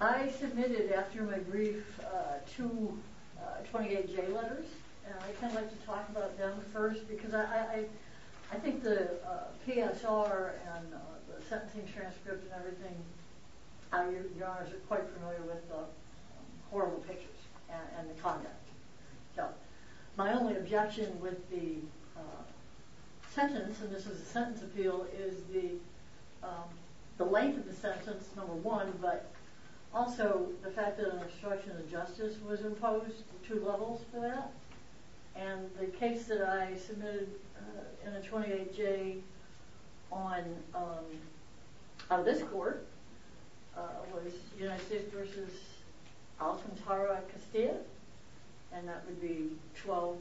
I submitted after my brief to 28 J letters and I'd like to talk about them first because I I think the PSR and the sentencing transcripts and everything your honors are quite familiar with the horrible pictures and the conduct so my only objection with the sentence and this is a sentence appeal is the the length of the sentence number one but also the fact that an obstruction of justice was imposed two levels for that and the case that I submitted in a 28 J on this court was United States v. Alcantara Castillo and that would be 12-50477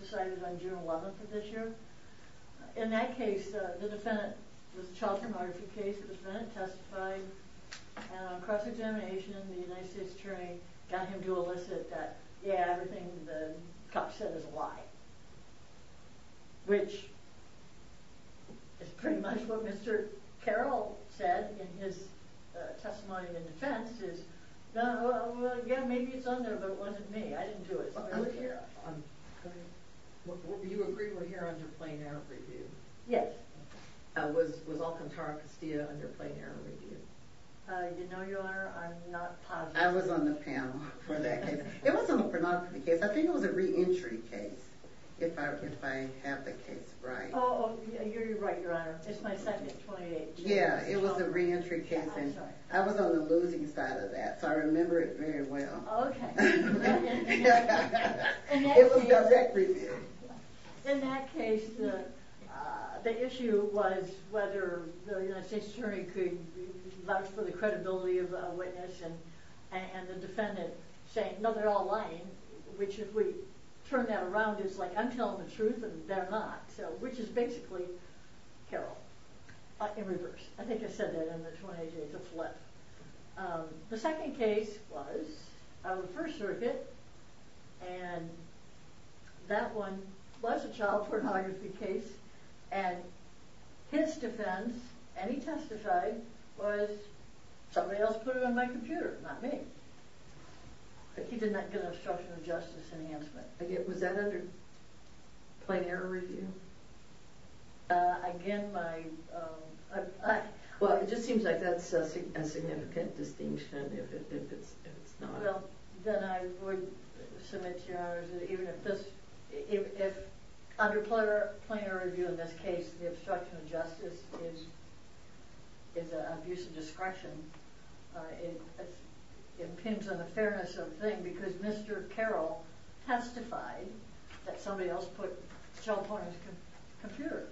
decided on June 11th of this year. In that case the defendant was a child said is a lie which is pretty much what Mr. Carroll said in his testimony of indefense is yeah maybe it's on there but it wasn't me I didn't do it. Do you agree we're here under plain error review? Yes. Was Alcantara Castillo under re-entry case if I have the case right? Yeah it was a re-entry case and I was on the losing side of that so I remember it very well. In that case the issue was whether the United States attorney could vouch for the credibility of a witness and the defendant saying no they're all lying which if we turn that around it's like I'm telling the truth and they're not so which is basically Carroll in reverse. I think I said that in the 28 J to flip. The second case was on the first circuit and that one was a child pornography case and his defense and he testified was somebody else put it on my computer not me but he did not get an obstruction of justice enhancement. Was that under plain error review? Again my well it just seems like that's a significant distinction if it's not. Well then I would submit to your honors that even if this if under plain error review in this case the obstruction of justice is an abuse of discretion it depends on the fairness of the thing because Mr. Carroll has testified that somebody else put child pornography on his computer.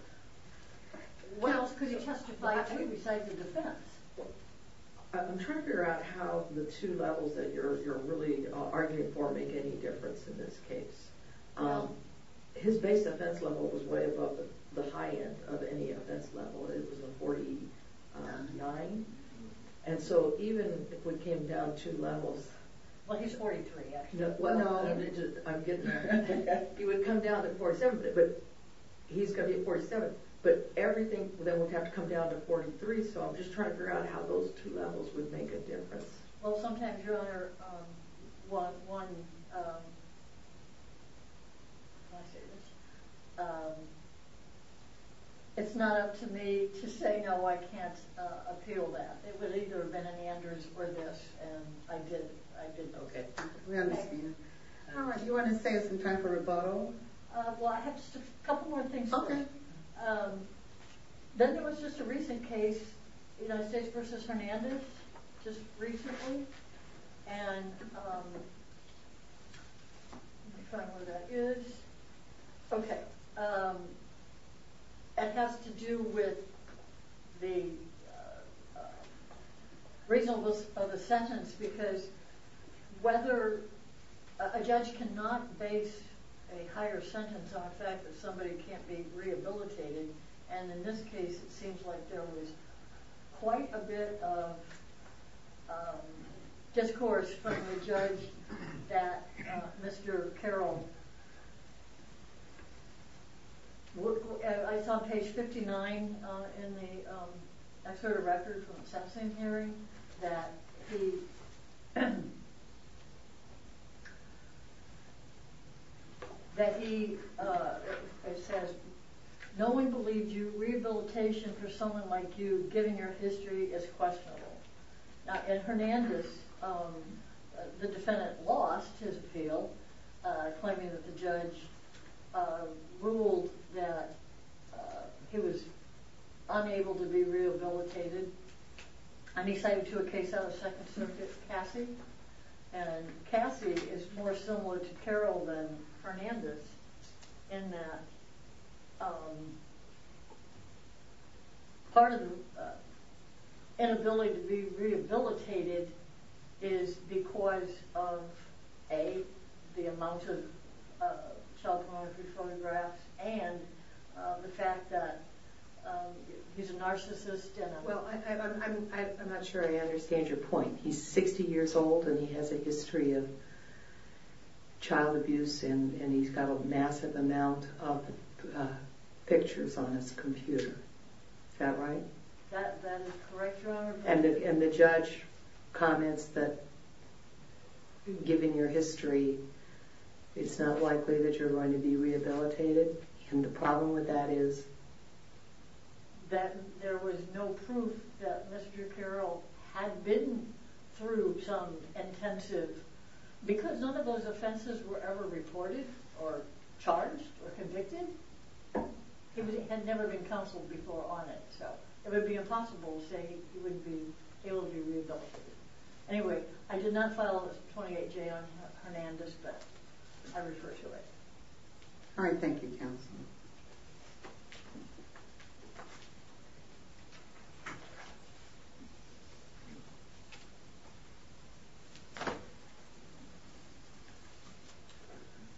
What else could he testify to besides the defense? I'm trying to figure out how the two levels that you're really arguing for make any difference in this case. His base offense level was way above the high end of any offense level. It was a 49 and so even if we came down two levels. Well he's 43 actually. He would come down to 47 but he's going to be at 47 but everything then would have to come down to 43 so I'm just trying to figure out how those two levels would make a difference. Well sometimes your honor one it's not up to me to say no I can't appeal that. It would either have been a Neanderthals or this and I did okay. We understand. You want to say it's in time for rebuttal? Well I have just a couple more things. Then there was just a recent case United States v. Hernandez just recently and it has to do with the reasonableness of the sentence because whether a judge cannot base a higher sentence on the fact that somebody can't be rehabilitated and in this case it seems like there was quite a bit of discourse from the judge that Mr. Carroll I saw page 59 in the excerpt of the record from the sentencing hearing that he says no one believed you. Rehabilitation for someone like you given your history is questionable and Hernandez the defendant lost his appeal claiming that the judge ruled that he was unable to be rehabilitated. I'm excited to a case out of second circuit Cassie and Cassie is more similar to Carroll than Hernandez in that part of the inability to be rehabilitated is because of A the amount of child pornography photographs and the fact that he's a narcissist. Well I'm not sure I understand your point. He's 60 years old and he has a history of child abuse and he's got a massive amount of pictures on his computer. Is that right? And the judge comments that given your history it's not likely that you're going to be rehabilitated and the problem with that is that there was no proof that Mr. Carroll had been through some intensive because none of those offenses were ever reported or charged or convicted. He had never been counseled before on it so it would be impossible to say he would be able to be rehabilitated. Anyway I did not file a 28-J on Hernandez but I refer to it. Alright thank you counsel.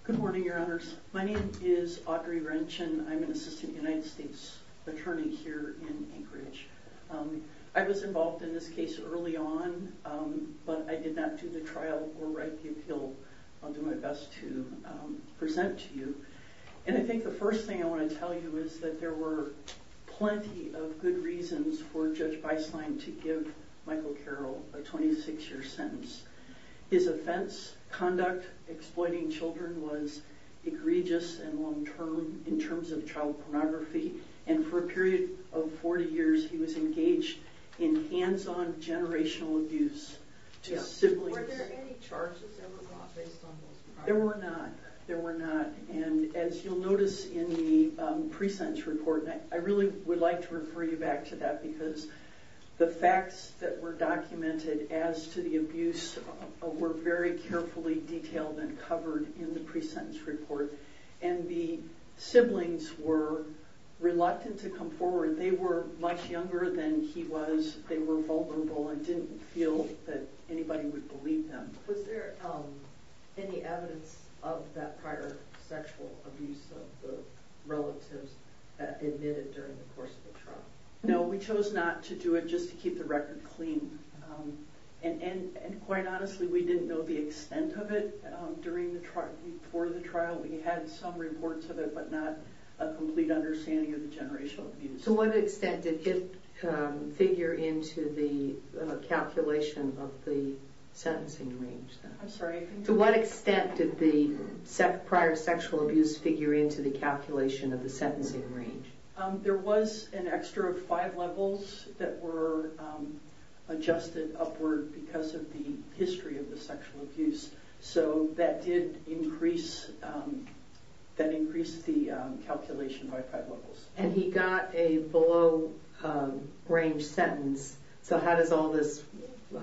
Good morning your honors. My name is Audrey Wrench and I'm an assistant United States attorney here in Anchorage. I was involved in this case early on but I did not do the trial or write the appeal. I'll do my best to present to you. And I think the first thing I want to tell you is that there were plenty of good reasons for Judge Beislein to give Michael Carroll a 26-year sentence. His offense conduct exploiting children was egregious and long term in terms of child pornography and for a period of 40 years he was engaged in hands-on generational abuse to siblings. Were there any charges ever brought based on those charges? Was there any evidence of that prior sexual abuse of the relatives admitted during the course of the trial? No we chose not to do it just to keep the record clean and quite honestly we didn't know the extent of it before the trial. We had some reports of it but not a complete understanding of the generational abuse. To what extent did it figure into the calculation of the sentencing range? There was an extra five levels that were adjusted upward because of the history of the sexual abuse so that did increase the calculation by five levels. And he got a below range sentence so how does all this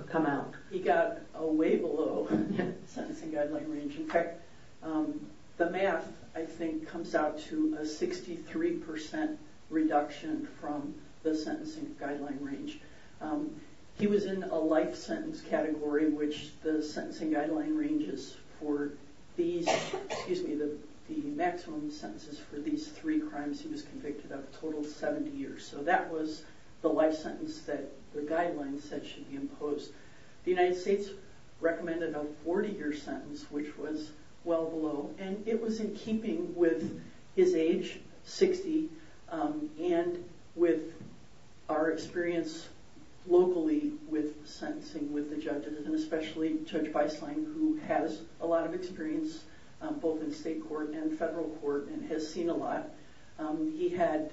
come out? He got way below the sentencing guideline range. In fact the math I think comes out to a 63% reduction from the sentencing guideline range. He was in a life sentence category which the sentencing guideline ranges for the maximum sentences for these three crimes he was convicted of a total of 70 years. So that was the life sentence that the guideline said should be imposed. The United States recommended a 40 year sentence which was well below and it was in keeping with his age, 60, and with our experience locally with sentencing with the judges and especially Judge Beisling who has a lot of experience both in state court and federal court and has seen a lot. He had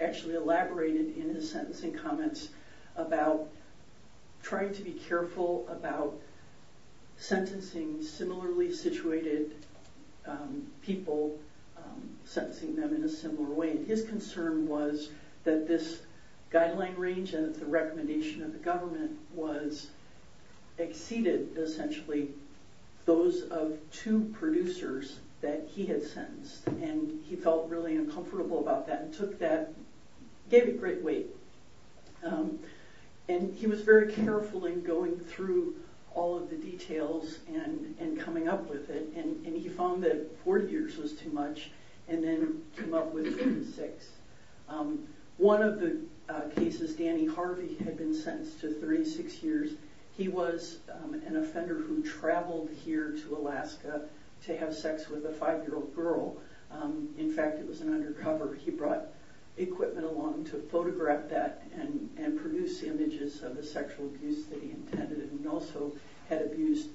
actually elaborated in his sentencing comments about trying to be careful about sentencing similarly situated people, sentencing them in a similar way. His concern was that this guideline range and the recommendation of the government exceeded essentially those of two producers that he had sentenced and he felt really uncomfortable about that and gave it great weight. He was very careful in going through all of the details and coming up with it and he found that 40 years was too much and then came up with 36. One of the cases, Danny Harvey had been sentenced to 36 years. He was an offender who traveled here to Alaska to have sex with a five year old girl. In fact it was an undercover. He brought equipment along to photograph that and produce images of the sexual abuse that he intended and also had abused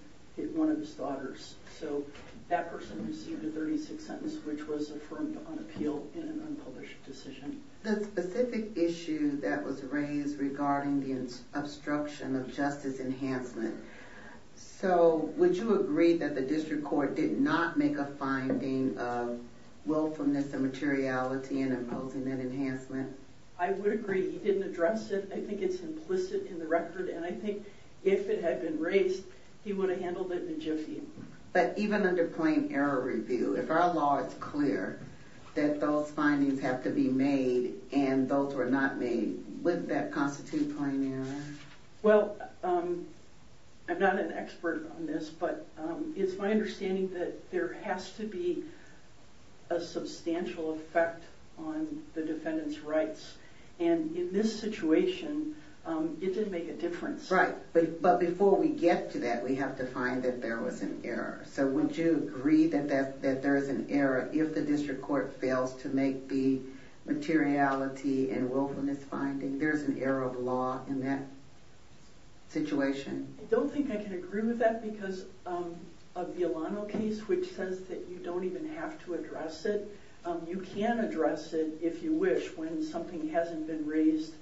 one of his daughters. That person received a 36 sentence which was affirmed on appeal in an unpublished decision. The specific issue that was raised regarding the obstruction of justice enhancement, would you agree that the district court did not make a finding of willfulness and materiality in imposing that enhancement? I would agree. He didn't address it. I think it's implicit in the record and I think if it had been raised he would have handled it in a jiffy. But even under plain error review, if our law is clear that those findings have to be made and those were not made, wouldn't that constitute plain error? Well, I'm not an expert on this but it's my understanding that there has to be a substantial effect on the defendant's rights and in this situation it didn't make a difference. Right, but before we get to that we have to find that there was an error. So would you agree that there is an error if the district court fails to make the materiality and willfulness finding? There is an error of law in that situation. I don't think I can agree with that because a Bialano case which says that you don't even have to address it, you can address it if you wish when something hasn't been raised,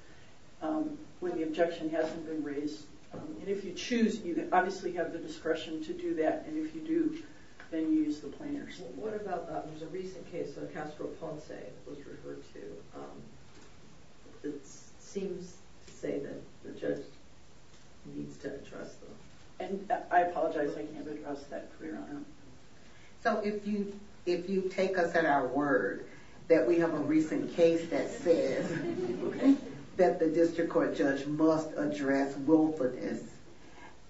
when the objection hasn't been raised. And if you choose you obviously have the discretion to do that and if you do then you use the plain errors. What about the recent case where Castro Ponce was referred to? It seems to say that the judge needs to address that. And I apologize I can't address that. So if you take us at our word that we have a recent case that says that the district court judge must address willfulness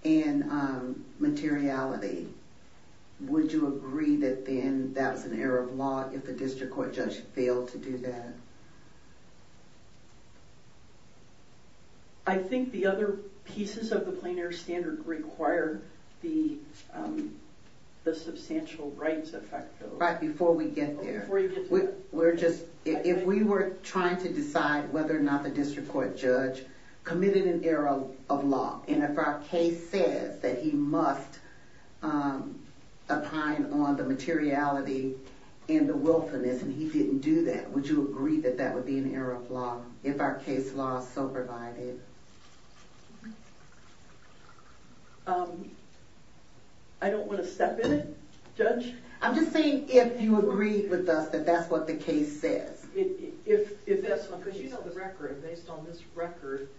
and materiality, would you agree that then that's an error of law if the district court judge failed to do that? I think the other pieces of the plain error standard require the substantial rights effect. If we were trying to decide whether or not the district court judge committed an error of law and if our case says that he must opine on the materiality and the willfulness and he didn't do that, would you agree that that would be an error of law if our case law is so provided? I don't want to step in it, judge. I'm just saying if you agree with us that that's what the case says. Based on this record,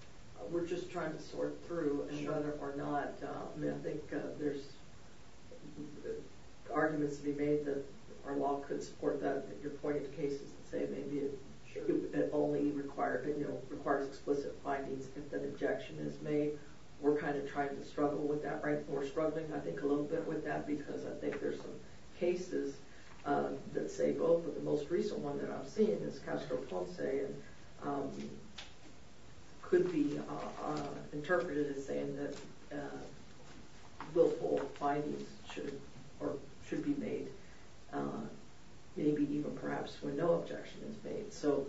we're just trying to sort through whether or not I think there's arguments to be made that our law could support that. Your point of the case is to say maybe it only requires explicit findings if an objection is made. We're kind of trying to struggle with that. We're struggling, I think, a little bit with that because I think there's some cases that say both. But the most recent one that I've seen is Castro Ponce could be interpreted as saying that willful findings should be made, maybe even perhaps when no objection is made. So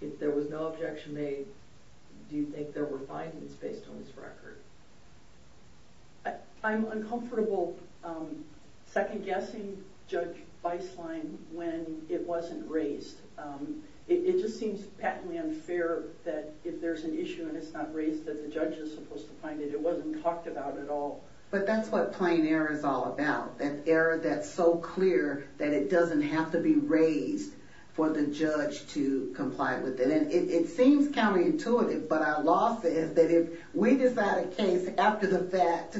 if there was no objection made, do you think there were findings based on this record? I'm uncomfortable second-guessing Judge Beislein when it wasn't raised. It just seems patently unfair that if there's an issue and it's not raised that the judge is supposed to find it. It wasn't talked about at all. But that's what plain error is all about, that error that's so clear that it doesn't have to be raised for the judge to comply with it. It seems counterintuitive, but our law says that if we decide a case after the fact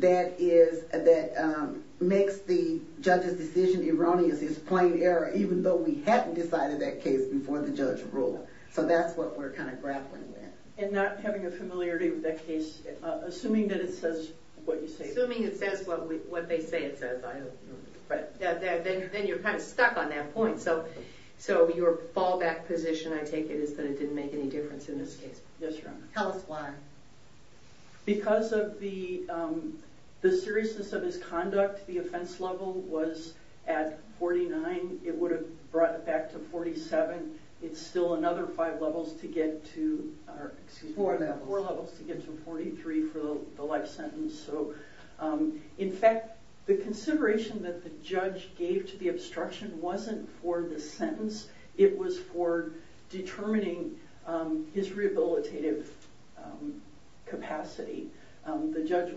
that makes the judge's decision erroneous, it's plain error, even though we hadn't decided that case before the judge ruled. So that's what we're grappling with. And not having a familiarity with that case, assuming that it says what you say. Assuming it says what they say it says. Then you're kind of stuck on that point. So your fallback position, I take it, is that it didn't make any difference in this case. Yes, Your Honor. Tell us why. Because of the seriousness of his conduct, the offense level was at 49. It would have brought it back to 47. It's still another four levels to get to 43 for the life sentence. So in fact, the consideration that the judge gave to the obstruction wasn't for the sentence. It was for determining his rehabilitative capacity. The judge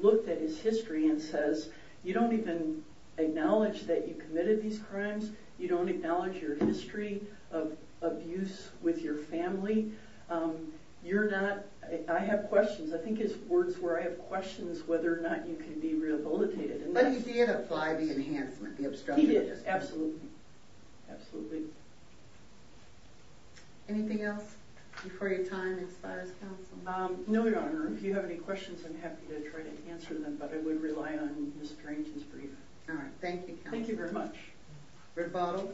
looked at his history and says, you don't even acknowledge that you committed these crimes. You don't acknowledge your history of abuse with your family. I have questions. I think it's words where I have questions whether or not you can be rehabilitated. But he did apply the enhancement, the obstruction. He did, absolutely. Anything else before your time expires, Counsel? No, Your Honor. If you have any questions, I'm happy to try to answer them, but I would rely on Ms. Perrington's brief. Thank you, Counsel. Thank you very much. Britt Bottle.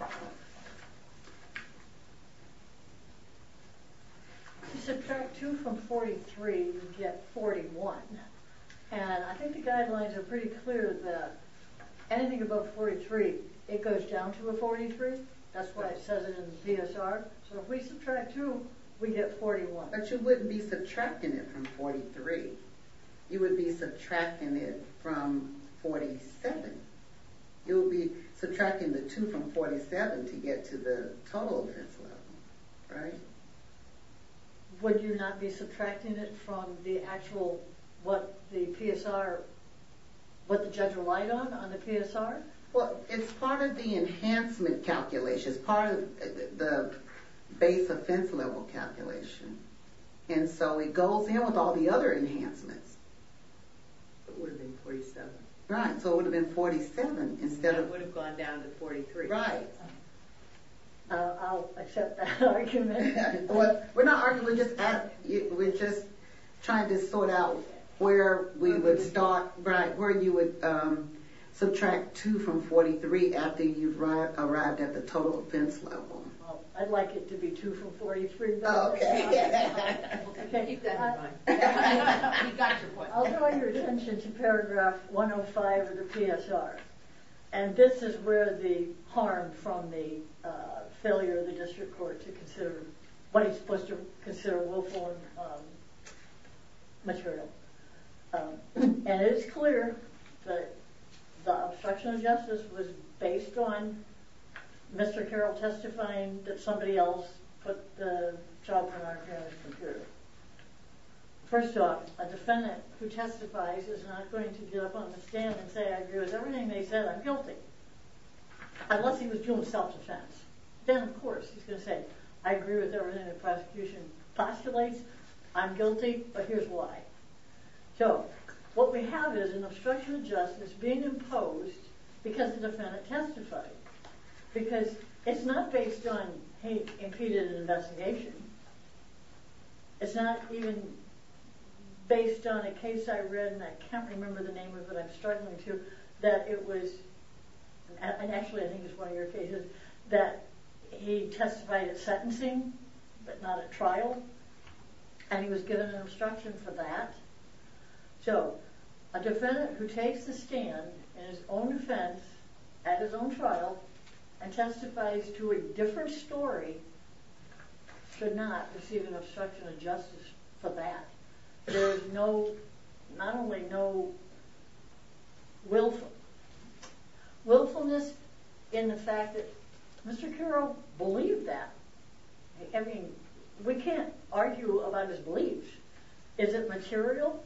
If you subtract two from 43, you get 41. And I think the guidelines are pretty clear that anything above 43, it goes down to a 43. That's what it says in the DSR. So if we subtract two, we get 41. But you wouldn't be subtracting it from 43. You would be subtracting it from 47. You would be subtracting the two from 47 to get to the total offense level, right? Would you not be subtracting it from the actual, what the PSR, what the judge relied on, on the PSR? Well, it's part of the enhancement calculation. It's part of the base offense level calculation. And so it goes in with all the other enhancements. It would have been 47. Right, so it would have been 47 instead of... That would have gone down to 43. Right. I'll accept that argument. Well, we're not arguing. We're just trying to sort out where we would start, where you would subtract two from 43 after you've arrived at the total offense level. Well, I'd like it to be two from 43. Oh, yeah. Keep that in mind. We've got your point. I'll draw your attention to paragraph 105 of the PSR. And this is where the harm from the failure of the district court to consider what he's supposed to consider will form material. And it's clear that the obstruction of justice was based on Mr. Carroll testifying that somebody else put the job on our parents' computer. First off, a defendant who testifies is not going to get up on the stand and say, I agree with everything they said, I'm guilty. Unless he was doing self-defense. Then, of course, he's going to say, I agree with everything the prosecution postulates, I'm guilty, but here's why. So, what we have is an obstruction of justice being imposed because the defendant testified. Because it's not based on he impeded an investigation. It's not even based on a case I read, and I can't remember the name of it, but I'm struggling to, that it was... And he was given an obstruction for that. So, a defendant who takes the stand in his own defense, at his own trial, and testifies to a different story should not receive an obstruction of justice for that. There is not only no willfulness in the fact that Mr. Carroll believed that. I mean, we can't argue about his beliefs. Is it material?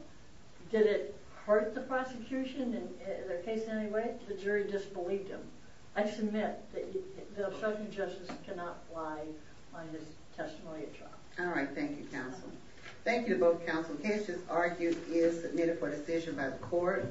Did it hurt the prosecution in their case in any way? The jury disbelieved him. I submit that the obstruction of justice cannot lie on this testimony at trial. Alright, thank you, counsel. Thank you to both counsel. Kesha's argument is submitted for decision by the court.